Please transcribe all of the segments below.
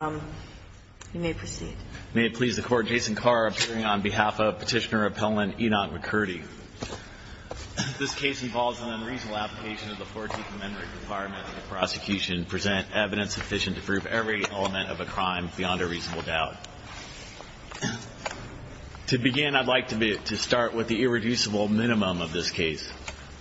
on behalf of Petitioner Appellant Enoch McCurdy. This case involves an unreasonable application of the 14th Amendment requirement of the prosecution to present evidence sufficient to prove every element of a crime beyond a reasonable doubt. To begin, I'd like to start with the irreducible minimum of this case.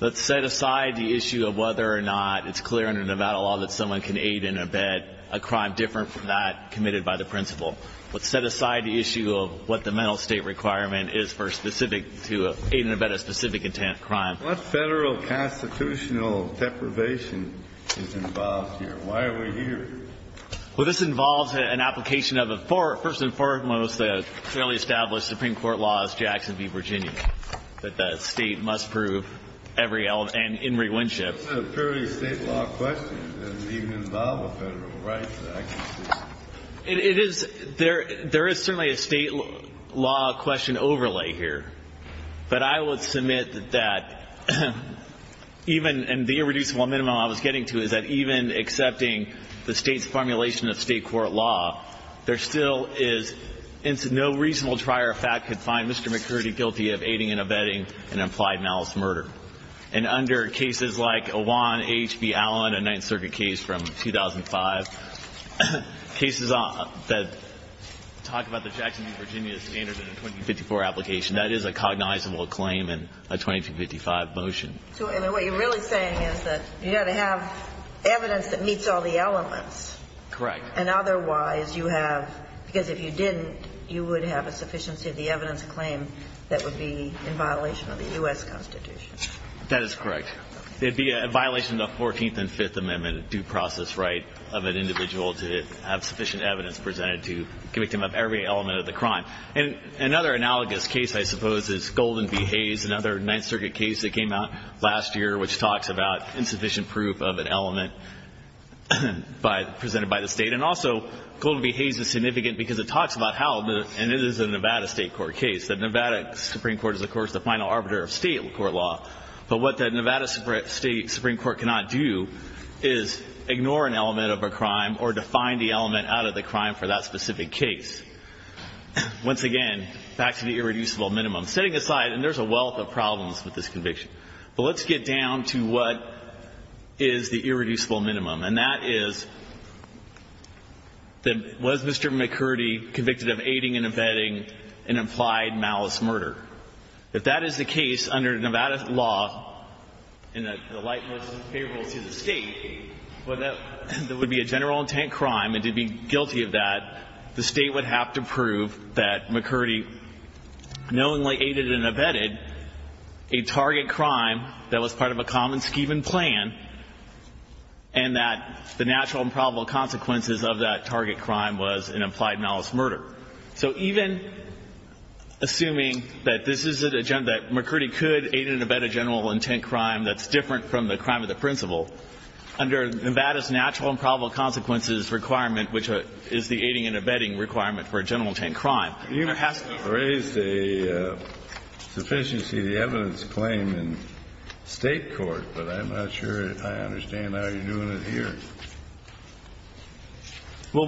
Let's set aside the issue of whether or not it's clear under Nevada law that someone can aid and abet a crime different from that committed by the principal. Let's set aside the issue of what the mental state requirement is for specific to aid and abet a specific intent crime. What federal constitutional deprivation is involved here? Why are we here? Well, this involves an application of a first and foremost fairly established Supreme Court law as Jackson v. Virginia, that the state must prove every element and in this case, it is, there is certainly a state law question overlay here, but I would submit that even, and the irreducible minimum I was getting to is that even accepting the state's formulation of state court law, there still is no reasonable trier of fact could find Mr. McCurdy guilty of aiding and abetting an implied malice murder. And under cases like Awan v. H.B. Allen, a Ninth Circuit case from 2005, there is no case that talks about the Jackson v. Virginia standard in a 2054 application. That is a cognizable claim in a 2055 motion. So what you're really saying is that you've got to have evidence that meets all the elements. Correct. And otherwise, you have, because if you didn't, you would have a sufficiency of the evidence claim that would be in violation of the U.S. Constitution. That is correct. It would be a violation of the 14th and 5th Amendment, a due process right of an individual to have sufficient evidence presented to convict him of every element of the crime. And another analogous case, I suppose, is Golden v. Hayes, another Ninth Circuit case that came out last year which talks about insufficient proof of an element presented by the state. And also, Golden v. Hayes is significant because it talks about how, and it is a Nevada state court case. The Nevada Supreme Court is, of course, the final arbiter of state court law. But what the Nevada State Supreme Court cannot do is ignore an element of a crime or define the element out of the crime for that specific case. Once again, back to the irreducible minimum. Setting aside, and there's a wealth of problems with this conviction, but let's get down to what is the irreducible minimum. And that is, was Mr. McCurdy convicted of aiding and abetting an implied malice murder? If that is the case under Nevada law, in the light most favorable to the state, whether that would be a general intent crime, and to be guilty of that, the state would have to prove that McCurdy knowingly aided and abetted a target crime that was part of a common scheme and plan, and that the natural and probable consequences of that target crime was an implied malice murder. So even assuming that this is an agenda, that McCurdy could aid and abet a general intent crime that's different from the crime of the principle, under Nevada's natural and probable consequences requirement, which is the aiding and abetting requirement for a general intent crime, you have to raise the sufficiency of the evidence claim in state court, but I'm not sure I understand how you're doing it here. Well,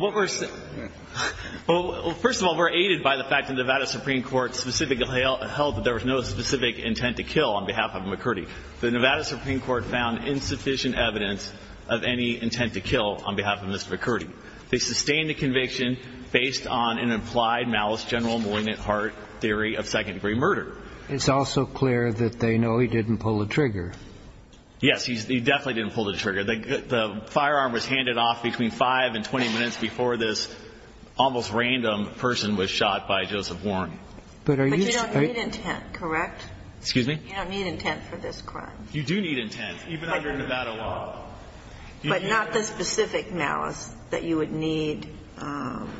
first of all, we're aided by the fact that Nevada Supreme Court specifically held that there was no specific intent to kill on behalf of McCurdy. The Nevada Supreme Court found insufficient evidence of any intent to kill on behalf of Mr. McCurdy. They sustained the conviction based on an implied malice general malignant heart theory of second-degree murder. It's also clear that they know he didn't pull the trigger. Yes, he definitely didn't pull the trigger. The firearm was handed off between 5 and 20 minutes before this almost random person was shot by Joseph Warren. But you don't need intent, correct? Excuse me? You don't need intent for this crime. You do need intent, even under Nevada law. But not the specific malice that you would need.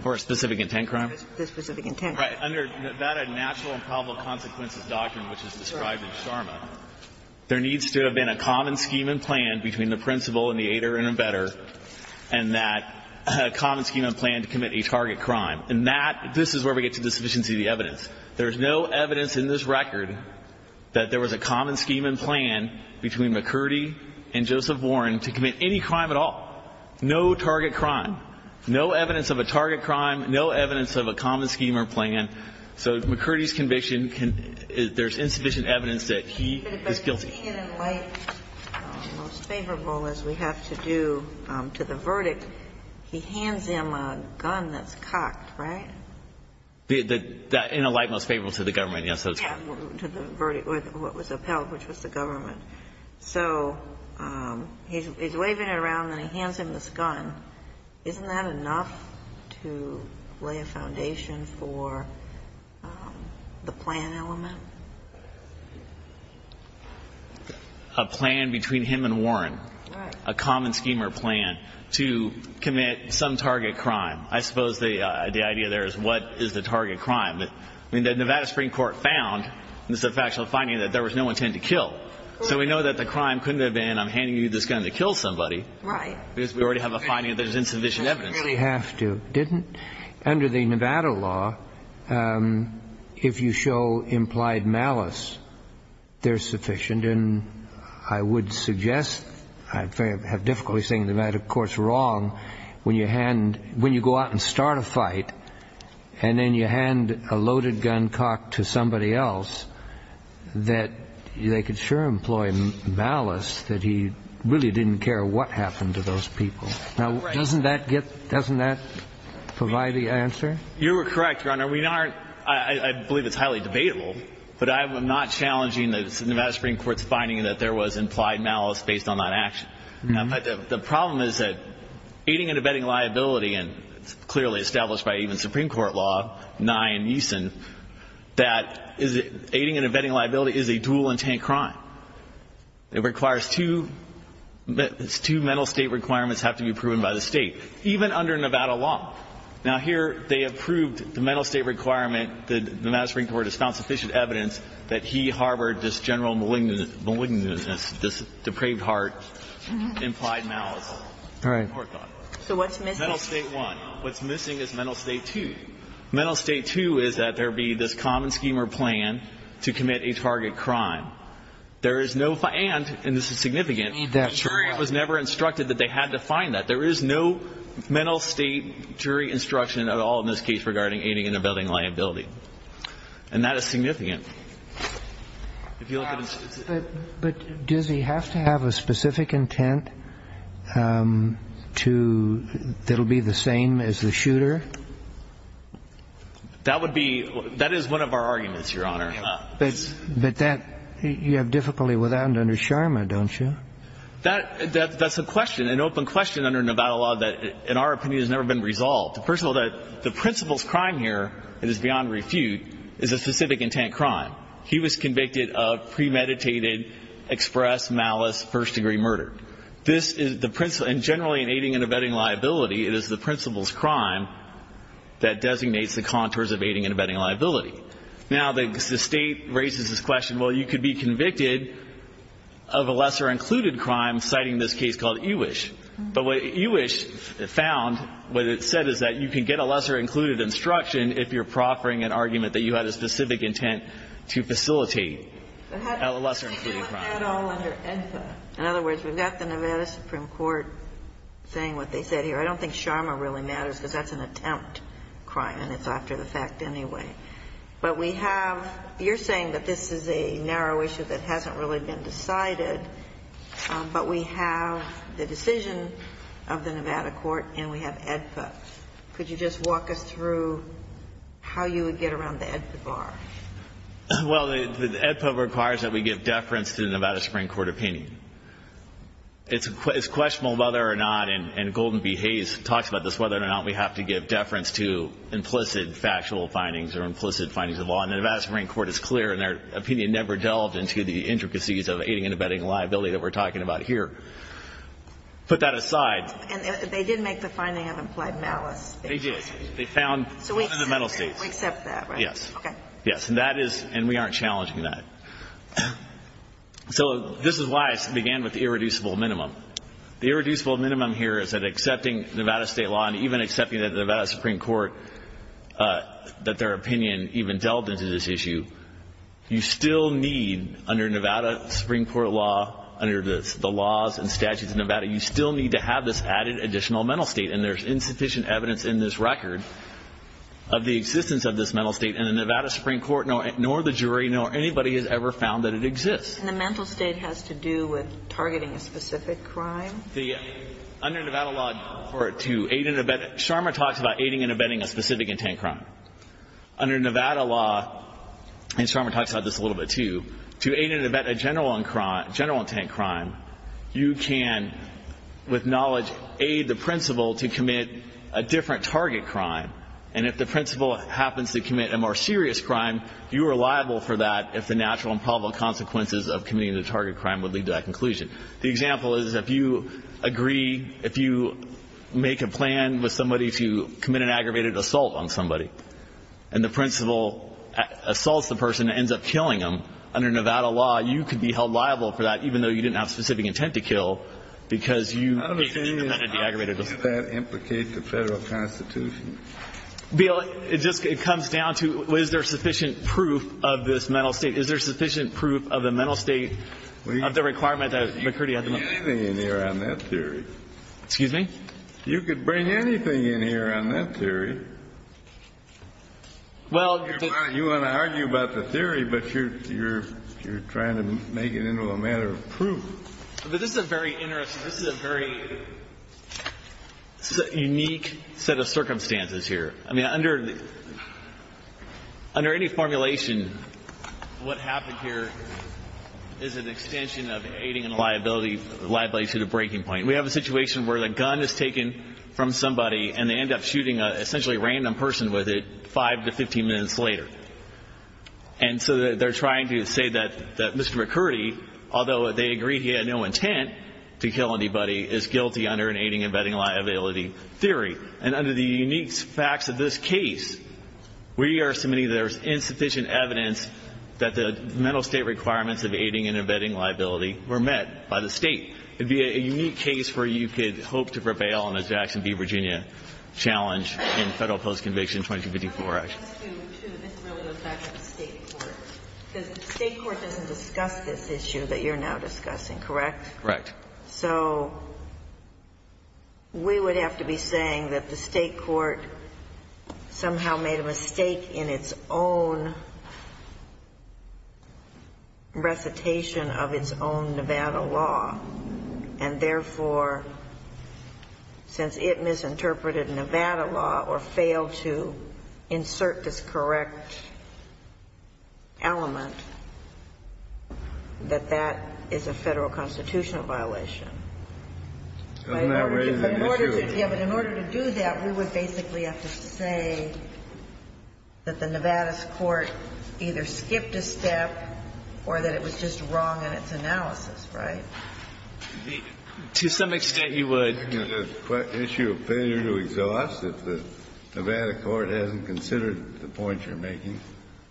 For a specific intent crime? For a specific intent crime. Right. Under Nevada natural and probable consequences doctrine, which is described in Sharma, there needs to have been a common scheme and plan between the principal and the aider and embedder, and that common scheme and plan to commit a target crime. And that, this is where we get to the sufficiency of the evidence. There's no evidence in this record that there was a common scheme and plan between McCurdy and Joseph Warren to commit any crime at all. No target crime. No evidence of a common scheme or plan. So McCurdy's conviction, there's insufficient evidence that he is guilty. But being in a light most favorable, as we have to do to the verdict, he hands him a gun that's cocked, right? In a light most favorable to the government, yes. To the verdict, what was upheld, which was the government. So he's waving it around and he hands him this gun. Isn't that enough to lay a foundation for the plan element? A plan between him and Warren. Right. A common scheme or plan to commit some target crime. I suppose the idea there is what is the target crime. The Nevada Supreme Court found, this is a factual finding, that there was no intent to kill. So we know that the crime couldn't have been I'm handing you this gun to kill somebody. Right. Because we already have a finding that there's insufficient evidence. Didn't really have to. Under the Nevada law, if you show implied malice, there's sufficient. And I would suggest, I have difficulty saying that, of course, wrong, when you go out and start a fight and then you hand a loaded gun cocked to somebody else, that they could sure employ malice that he really didn't care what happened to those people. Now, doesn't that get, doesn't that provide the answer? You're correct, Your Honor. We aren't, I believe it's highly debatable, but I'm not challenging the Nevada Supreme Court's finding that there was implied malice based on that action. But the problem is that aiding and abetting liability, and it's clearly established by even Supreme Court law, Nye and Eason, that aiding and abetting liability is a dual intent crime. It requires two, two mental state requirements have to be proven by the State, even under Nevada law. Now, here they have proved the mental state requirement, the Nevada Supreme Court has found sufficient evidence that he harbored this general malignant, malignant, depraved heart, implied malice. All right. Poor thought. So what's missing? Mental state one. What's missing is mental state two. Mental state two is that there be this common scheme or plan to commit a target crime. There is no, and this is significant, jury was never instructed that they had to find that. There is no mental state jury instruction at all in this case regarding aiding and abetting liability. And that is significant. But does he have to have a specific intent to, that will be the same as the shooter? That would be, that is one of our arguments, Your Honor. But that, you have difficulty with that under Sharma, don't you? That's a question, an open question under Nevada law that in our opinion has never been resolved. First of all, the principal's crime here, it is beyond refute, is a specific intent crime. He was convicted of premeditated, express, malice, first degree murder. This is the principal, and generally in aiding and abetting liability, it is the principal's crime that designates the contours of aiding and abetting liability. Now, the State raises this question, well, you could be convicted of a lesser included crime, citing this case called Ewish. But what Ewish found, what it said is that you can get a lesser included instruction if you're proffering an argument that you had a specific intent to facilitate a lesser included crime. In other words, we've got the Nevada Supreme Court saying what they said here. I don't think Sharma really matters, because that's an attempt crime, and it's after the fact anyway. But we have, you're saying that this is a narrow issue that hasn't really been decided, but we have the decision of the Nevada court, and we have AEDPA. Could you just walk us through how you would get around the AEDPA bar? Well, the AEDPA requires that we give deference to the Nevada Supreme Court opinion. It's questionable whether or not, and Golden B. Hayes talks about this, whether or not we have to give deference to implicit factual findings or implicit findings of law. And the Nevada Supreme Court is clear in their opinion, never delved into the intricacies of aiding and abetting liability that we're talking about here. Put that aside. And they did make the finding of implied malice. They did. They found in the mental states. So we accept that, right? Yes. Okay. Yes, and that is, and we aren't challenging that. So this is why I began with the irreducible minimum. The irreducible minimum here is that accepting Nevada state law, and even accepting that the Nevada Supreme Court, that their opinion even delved into this issue, you still need, under Nevada Supreme Court law, under the laws and statutes of Nevada, you still need to have this added additional mental state. And there's insufficient evidence in this record of the existence of this mental state in the Nevada Supreme Court, nor the jury, nor anybody has ever found that it exists. And the mental state has to do with targeting a specific crime? The, under Nevada law, for it to aid and abet, Sharma talks about aiding and abetting a specific intent crime. Under Nevada law, and Sharma talks about this a little bit too, to aid and abet a general intent crime, you can, with knowledge, aid the principal to commit a different target crime. And if the principal happens to commit a more serious crime, you are liable for that if the natural and probable consequences of committing the target crime would lead to that conclusion. The example is if you agree, if you make a plan with somebody to commit an aggravated assault on somebody, and the principal assaults the person and ends up killing them, under Nevada law, you could be held liable for that, even though you didn't have specific intent to kill, because you made an aggravated assault. I don't understand how does that implicate the Federal Constitution? Bill, it just, it comes down to, is there sufficient proof of this mental state? Is there sufficient proof of the mental state of the requirement that McCurdy had to make? You could bring anything in here on that theory. Excuse me? You could bring anything in here on that theory. You want to argue about the theory, but you're trying to make it into a matter of proof. But this is a very interesting, this is a very unique set of circumstances here. I mean, under any formulation, what happened here is an extension of aiding and liability to the breaking point. We have a situation where the gun is taken from somebody and they end up shooting an essentially random person with it five to 15 minutes later. And so they're trying to say that Mr. McCurdy, although they agreed he had no intent to kill anybody, is guilty under an aiding and abetting liability theory. And under the unique facts of this case, we are submitting there's insufficient evidence that the mental state requirements of aiding and abetting liability were met by the state. It would be a unique case where you could hope to prevail on a Jackson v. Virginia challenge in Federal Post Conviction 2254 Act. The State court doesn't discuss this issue that you're now discussing, correct? Correct. So we would have to be saying that the State court somehow made a mistake in its own recitation of its own Nevada law. And therefore, since it misinterpreted Nevada law or failed to insert this correct element, that that is a Federal constitutional violation. Doesn't that raise an issue? Yes, but in order to do that, we would basically have to say that the Nevada's court either skipped a step or that it was just wrong in its analysis, right? To some extent, you would. Isn't it an issue of failure to exhaust if the Nevada court hasn't considered the point you're making?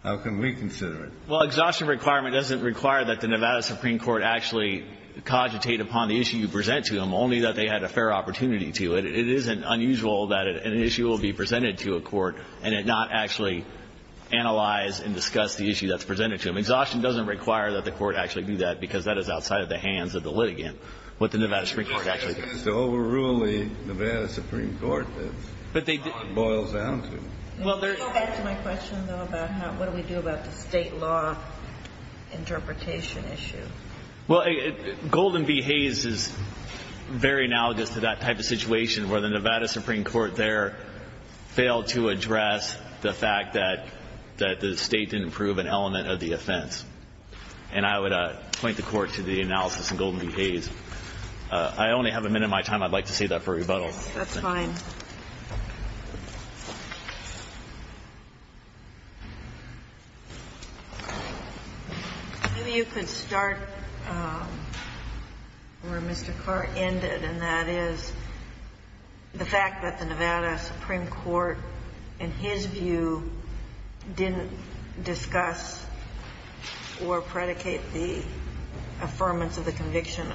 How can we consider it? Well, exhaustion requirement doesn't require that the Nevada supreme court actually cogitate upon the issue you present to them, only that they had a fair opportunity to. It isn't unusual that an issue will be presented to a court and it not actually analyze and discuss the issue that's presented to them. Exhaustion doesn't require that the court actually do that because that is outside of the hands of the litigant, what the Nevada supreme court actually does. The question is to overrule the Nevada supreme court. That's how it boils down to. Can you go back to my question, though, about what do we do about the State law interpretation issue? Well, Golden v. Hayes is very analogous to that type of situation where the Nevada supreme court there failed to address the fact that the State didn't prove an element of the offense. And I would point the Court to the analysis in Golden v. Hayes. I only have a minute of my time. I'd like to save that for rebuttal. That's fine. Maybe you could start where Mr. Carr ended, and that is the fact that the Nevada supreme court failed to address or predicate the affirmance of the conviction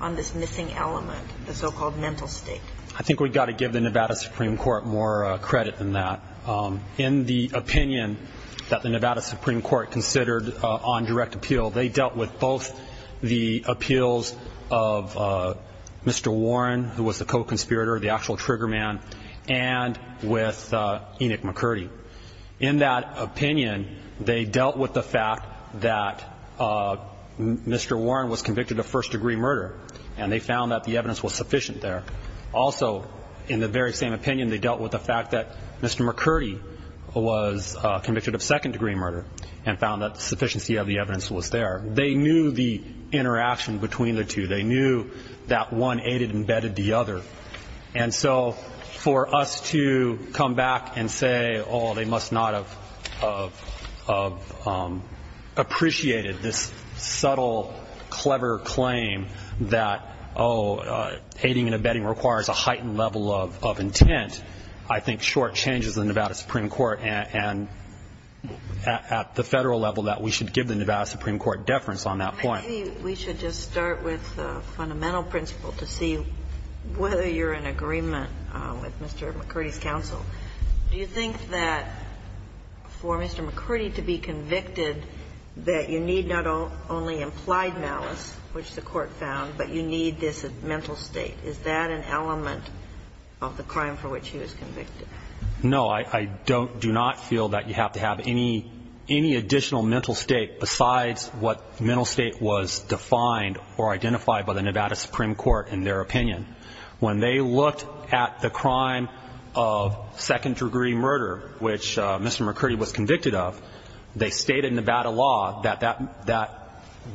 on this missing element, the so-called mental state. I think we've got to give the Nevada supreme court more credit than that. In the opinion that the Nevada supreme court considered on direct appeal, they dealt with both the appeals of Mr. Warren, who was the co-conspirator, the actual trigger man, and with Enoch McCurdy. In that opinion, they dealt with the fact that Mr. Warren was convicted of first-degree murder, and they found that the evidence was sufficient there. Also, in the very same opinion, they dealt with the fact that Mr. McCurdy was convicted of second-degree murder and found that the sufficiency of the evidence was there. They knew the interaction between the two. They knew that one aided and bedded the other. And so for us to come back and say, oh, they must not have appreciated this subtle, clever claim that, oh, aiding and bedding requires a heightened level of intent, I think shortchanges the Nevada supreme court and at the federal level that we should give the Nevada supreme court deference on that point. We should just start with the fundamental principle to see whether you're in agreement with Mr. McCurdy's counsel. Do you think that for Mr. McCurdy to be convicted, that you need not only implied malice, which the court found, but you need this mental state? Is that an element of the crime for which he was convicted? No, I don't do not feel that you have to have any additional mental state besides what mental state was defined or identified by the Nevada supreme court in their opinion. When they looked at the crime of second-degree murder, which Mr. McCurdy was convicted of, they stated in Nevada law that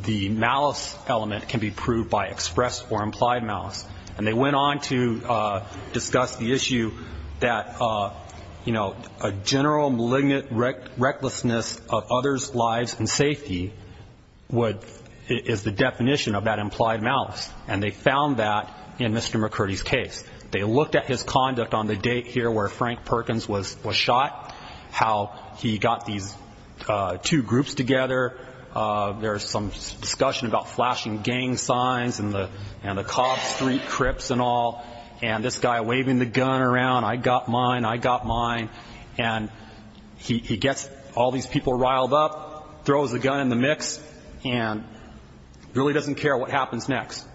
the malice element can be proved by express or implied malice. And they went on to discuss the issue that a general malignant recklessness of others' lives and safety is the definition of that implied malice. And they found that in Mr. McCurdy's case. They looked at his conduct on the date here where Frank Perkins was shot, how he got these two groups together. There's some discussion about flashing gang signs and the Cobb Street Crips and all. And this guy waving the gun around, I got mine, I got mine. And he gets all these people riled up, throws the gun in the mix, and really doesn't care what happens next.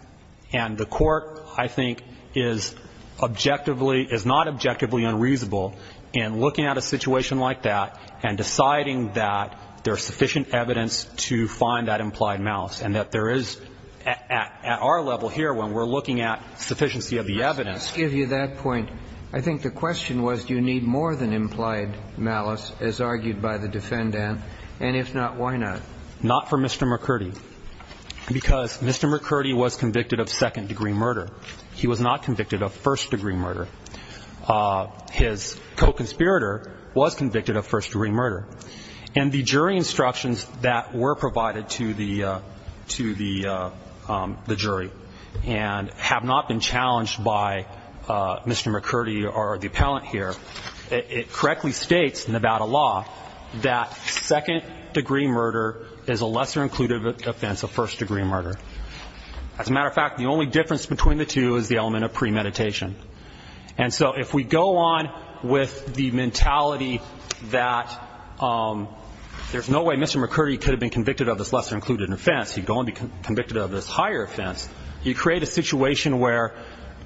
And the court, I think, is objectively, is not objectively unreasonable in looking at a situation like that and deciding that there's sufficient evidence to find that implied malice and that there is at our level here when we're looking at sufficiency of the evidence. Let's give you that point. I think the question was, do you need more than implied malice, as argued by the defendant? And if not, why not? Not for Mr. McCurdy. Because Mr. McCurdy was convicted of second-degree murder. He was not convicted of first-degree murder. His co-conspirator was convicted of first-degree murder. And the jury instructions that were provided to the jury and have not been challenged by Mr. McCurdy or the appellant here, it correctly states in Nevada law that second-degree murder is a lesser-included offense of first-degree murder. As a matter of fact, the only difference between the two is the element of premeditation. And so if we go on with the mentality that there's no way Mr. McCurdy could have been convicted of this lesser-included offense, he'd go on to be convicted of this higher offense. You create a situation where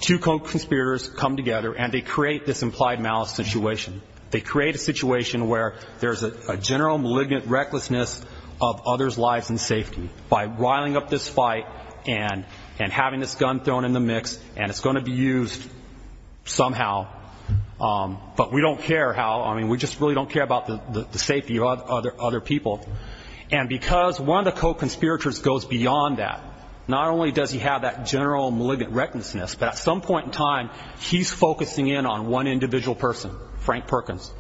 two co-conspirators come together and they create this implied malice situation. They create a situation where there's a general malignant recklessness of others' lives and safety by riling up this fight and having this gun thrown in the mix, and it's going to be used somehow. But we don't care how. I mean, we just really don't care about the safety of other people. And because one of the co-conspirators goes beyond that, not only does he have that general malignant recklessness, but at some point in time, he's focusing in on one individual person, Frank Perkins.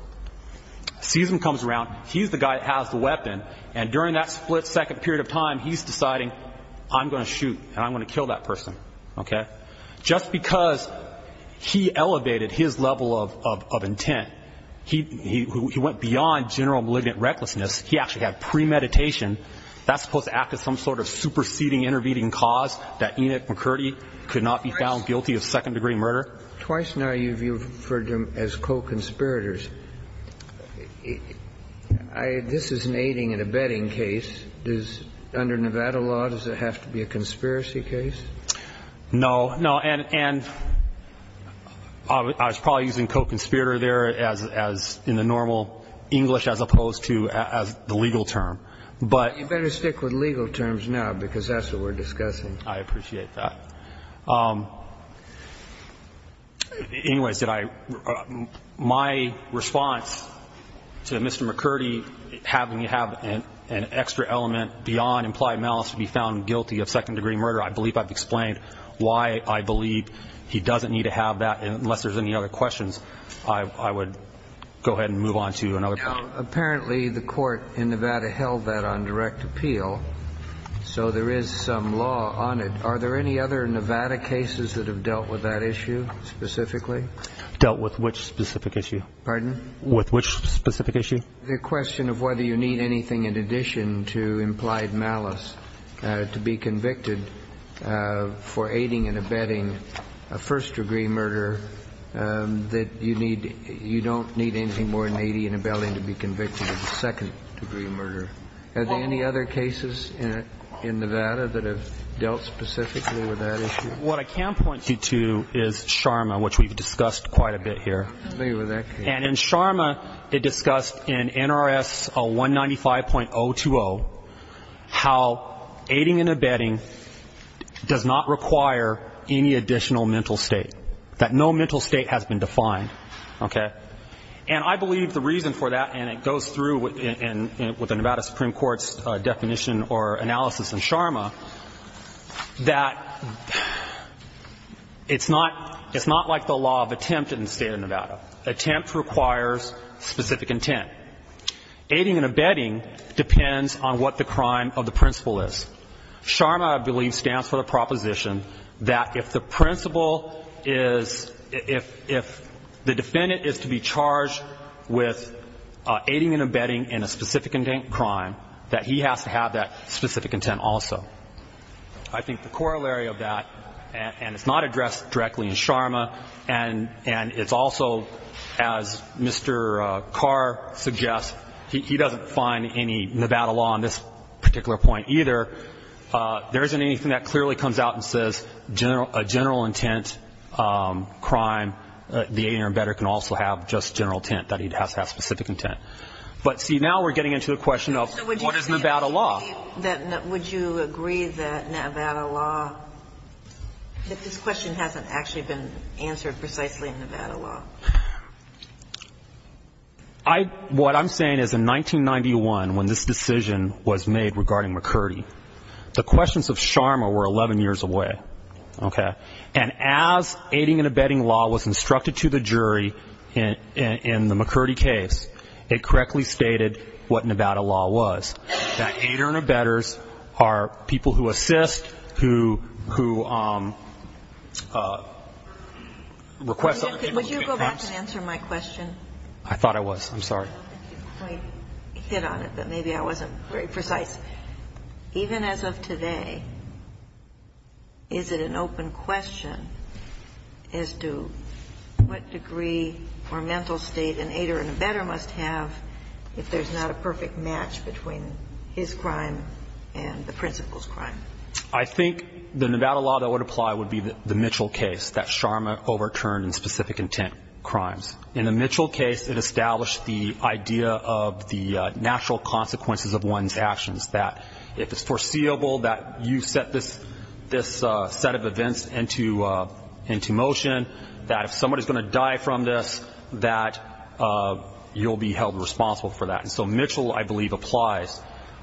Sees him, comes around. He's the guy that has the weapon. And during that split-second period of time, he's deciding, I'm going to shoot and I'm going to kill that person. Just because he elevated his level of intent, he went beyond general malignant recklessness. He actually had premeditation. That's supposed to act as some sort of superseding, intervening cause that Enoch McCurdy could not be found guilty of second-degree murder. Twice now you've referred to him as co-conspirators. This is an aiding and abetting case. Under Nevada law, does it have to be a conspiracy case? No. No, and I was probably using co-conspirator there as in the normal English as opposed to as the legal term. You better stick with legal terms now because that's what we're discussing. I appreciate that. Anyways, my response to Mr. McCurdy having to have an extra element beyond implied malice to be found guilty of second-degree murder, I believe I've explained why I believe he doesn't need to have that. Unless there's any other questions, I would go ahead and move on to another point. Apparently the court in Nevada held that on direct appeal, so there is some law on it. Are there any other Nevada cases that have dealt with that issue specifically? Dealt with which specific issue? Pardon? With which specific issue? The question of whether you need anything in addition to implied malice to be convicted for aiding and abetting a first-degree murder, that you need you don't need anything more than aiding and abetting to be convicted of a second-degree murder. Are there any other cases in Nevada that have dealt specifically with that issue? What I can point you to is Sharma, which we've discussed quite a bit here. And in Sharma, it discussed in NRS 195.020 how aiding and abetting does not require any additional mental state, that no mental state has been defined. Okay? And I believe the reason for that, and it goes through with the Nevada Supreme Court's analysis in Sharma, that it's not like the law of attempt in the State of Nevada. Attempt requires specific intent. Aiding and abetting depends on what the crime of the principle is. Sharma, I believe, stands for the proposition that if the principle is, if the defendant is to be charged with aiding and abetting in a specific intent crime, that he has to have that specific intent also. I think the corollary of that, and it's not addressed directly in Sharma, and it's also, as Mr. Carr suggests, he doesn't find any Nevada law on this particular point either. There isn't anything that clearly comes out and says a general intent crime, the aiding or abetting can also have just general intent, that he has to have specific intent. But see, now we're getting into the question of what is Nevada law. So would you agree that Nevada law, that this question hasn't actually been answered precisely in Nevada law? What I'm saying is in 1991, when this decision was made regarding McCurdy, the questions of Sharma were 11 years away. Okay? And as aiding and abetting law was instructed to the jury in the McCurdy case, it correctly stated what Nevada law was. That aider and abetters are people who assist, who request other people to give advice. Would you go back and answer my question? I thought I was. I'm sorry. I hit on it, but maybe I wasn't very precise. Even as of today, is it an open question as to what degree or mental state an aider and abetter must have if there's not a perfect match between his crime and the principal's crime? I think the Nevada law that would apply would be the Mitchell case, that Sharma overturned in specific intent crimes. In the Mitchell case, it established the idea of the natural consequences of one's actions, that if it's foreseeable that you set this set of events into motion, that if somebody's going to die from this, that you'll be held responsible for that. And so Mitchell, I believe, applies.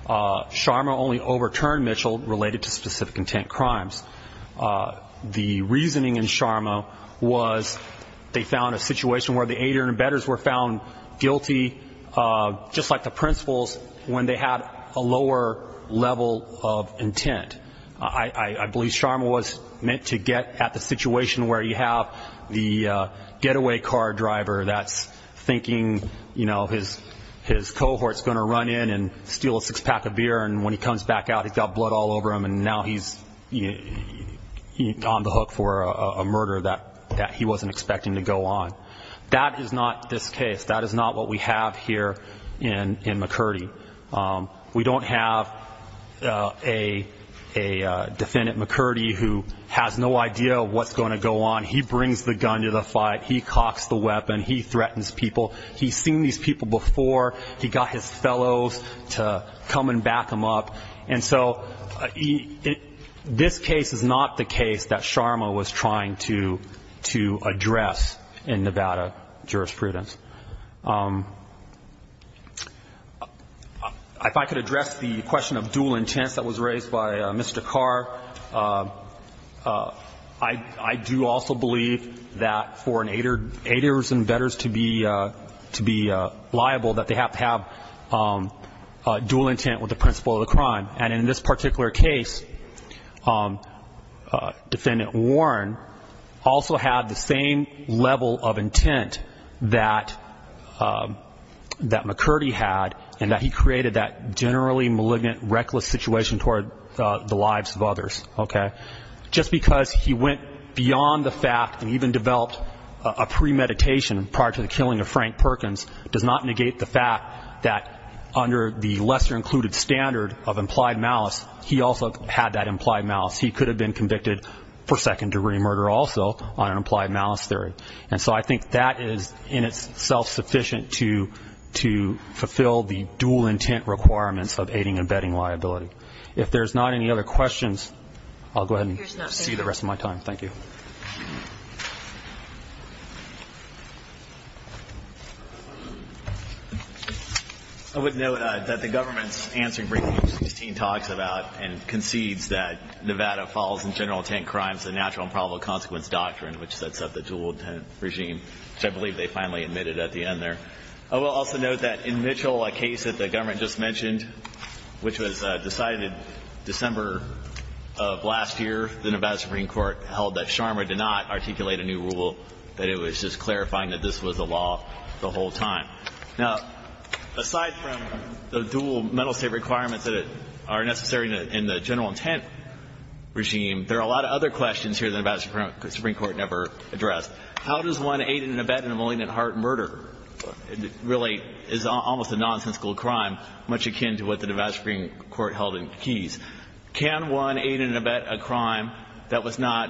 Sharma only overturned Mitchell related to specific intent crimes. The reasoning in Sharma was they found a situation where the aider and abetters were found guilty, just like the principals, when they had a lower level of intent. I believe Sharma was meant to get at the situation where you have the getaway car driver that's thinking, you know, his cohort's going to run in and steal a six-pack of beer, and when he comes back out, he's got blood all over him, and now he's on the hook for a murder that he wasn't expecting to go on. That is not this case. That is not what we have here in McCurdy. We don't have a defendant, McCurdy, who has no idea of what's going to go on. He brings the gun to the fight. He cocks the weapon. He threatens people. He's seen these people before. He got his fellows to come and back him up. And so this case is not the case that Sharma was trying to address in Nevada jurisprudence. If I could address the question of dual intent that was raised by Mr. Carr, I do also believe that for an aiders and bettors to be liable, that they have to have dual intent with the principle of the crime. And in this particular case, Defendant Warren also had the same level of intent that McCurdy had, and that he created that generally malignant, reckless situation toward the lives of others. Just because he went beyond the fact and even developed a premeditation prior to the killing of Frank Perkins does not negate the fact that under the lesser included standard of implied malice, he also had that implied malice. He could have been convicted for second-degree murder also on an implied malice theory. And so I think that is, in itself, sufficient to fulfill the dual intent requirements of aiding and betting liability. If there's not any other questions, I'll go ahead and see the rest of my time. Thank you. I would note that the government's answer in briefing 16 talks about and concedes that Nevada follows in general intent crimes the natural and probable consequence doctrine, which sets up the dual intent regime, which I believe they finally admitted at the end there. I will also note that in Mitchell, a case that the government just mentioned, which was decided December of last year, the Nevada Supreme Court held that Sharma did not articulate a new rule, that it was just clarifying that this was the law the whole time. Now, aside from the dual mental state requirements that are necessary in the general intent regime, there are a lot of other questions here the Nevada Supreme Court never addressed. How does one aid and abet in a malignant heart murder? It really is almost a nonsensical crime, much akin to what the Nevada Supreme Court held in Keyes. Can one aid and abet a crime that was not,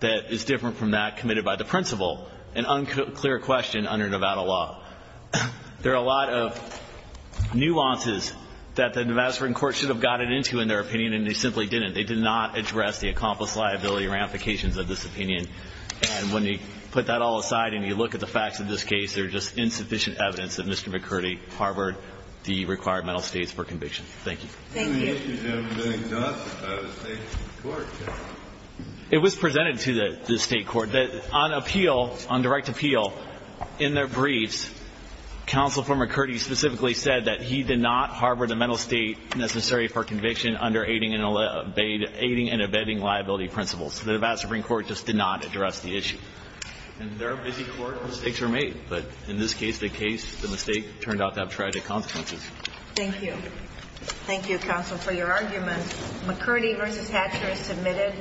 that is different from that committed by the principal? An unclear question under Nevada law. There are a lot of nuances that the Nevada Supreme Court should have gotten into in their opinion, and they simply didn't. They did not address the accomplice liability ramifications of this opinion. And when you put that all aside and you look at the facts of this case, there is just insufficient evidence that Mr. McCurdy harbored the required mental states for conviction. Thank you. Thank you. It was presented to the state court that on appeal, on direct appeal, in their briefs, counsel for McCurdy specifically said that he did not harbor the mental state necessary for conviction under aiding and abetting liability principles. The Nevada Supreme Court just did not address the issue. In their busy court, mistakes were made. But in this case, the case, the mistake turned out to have tried to consequences. Thank you. Thank you, counsel, for your argument. McCurdy v. Hatcher is submitted.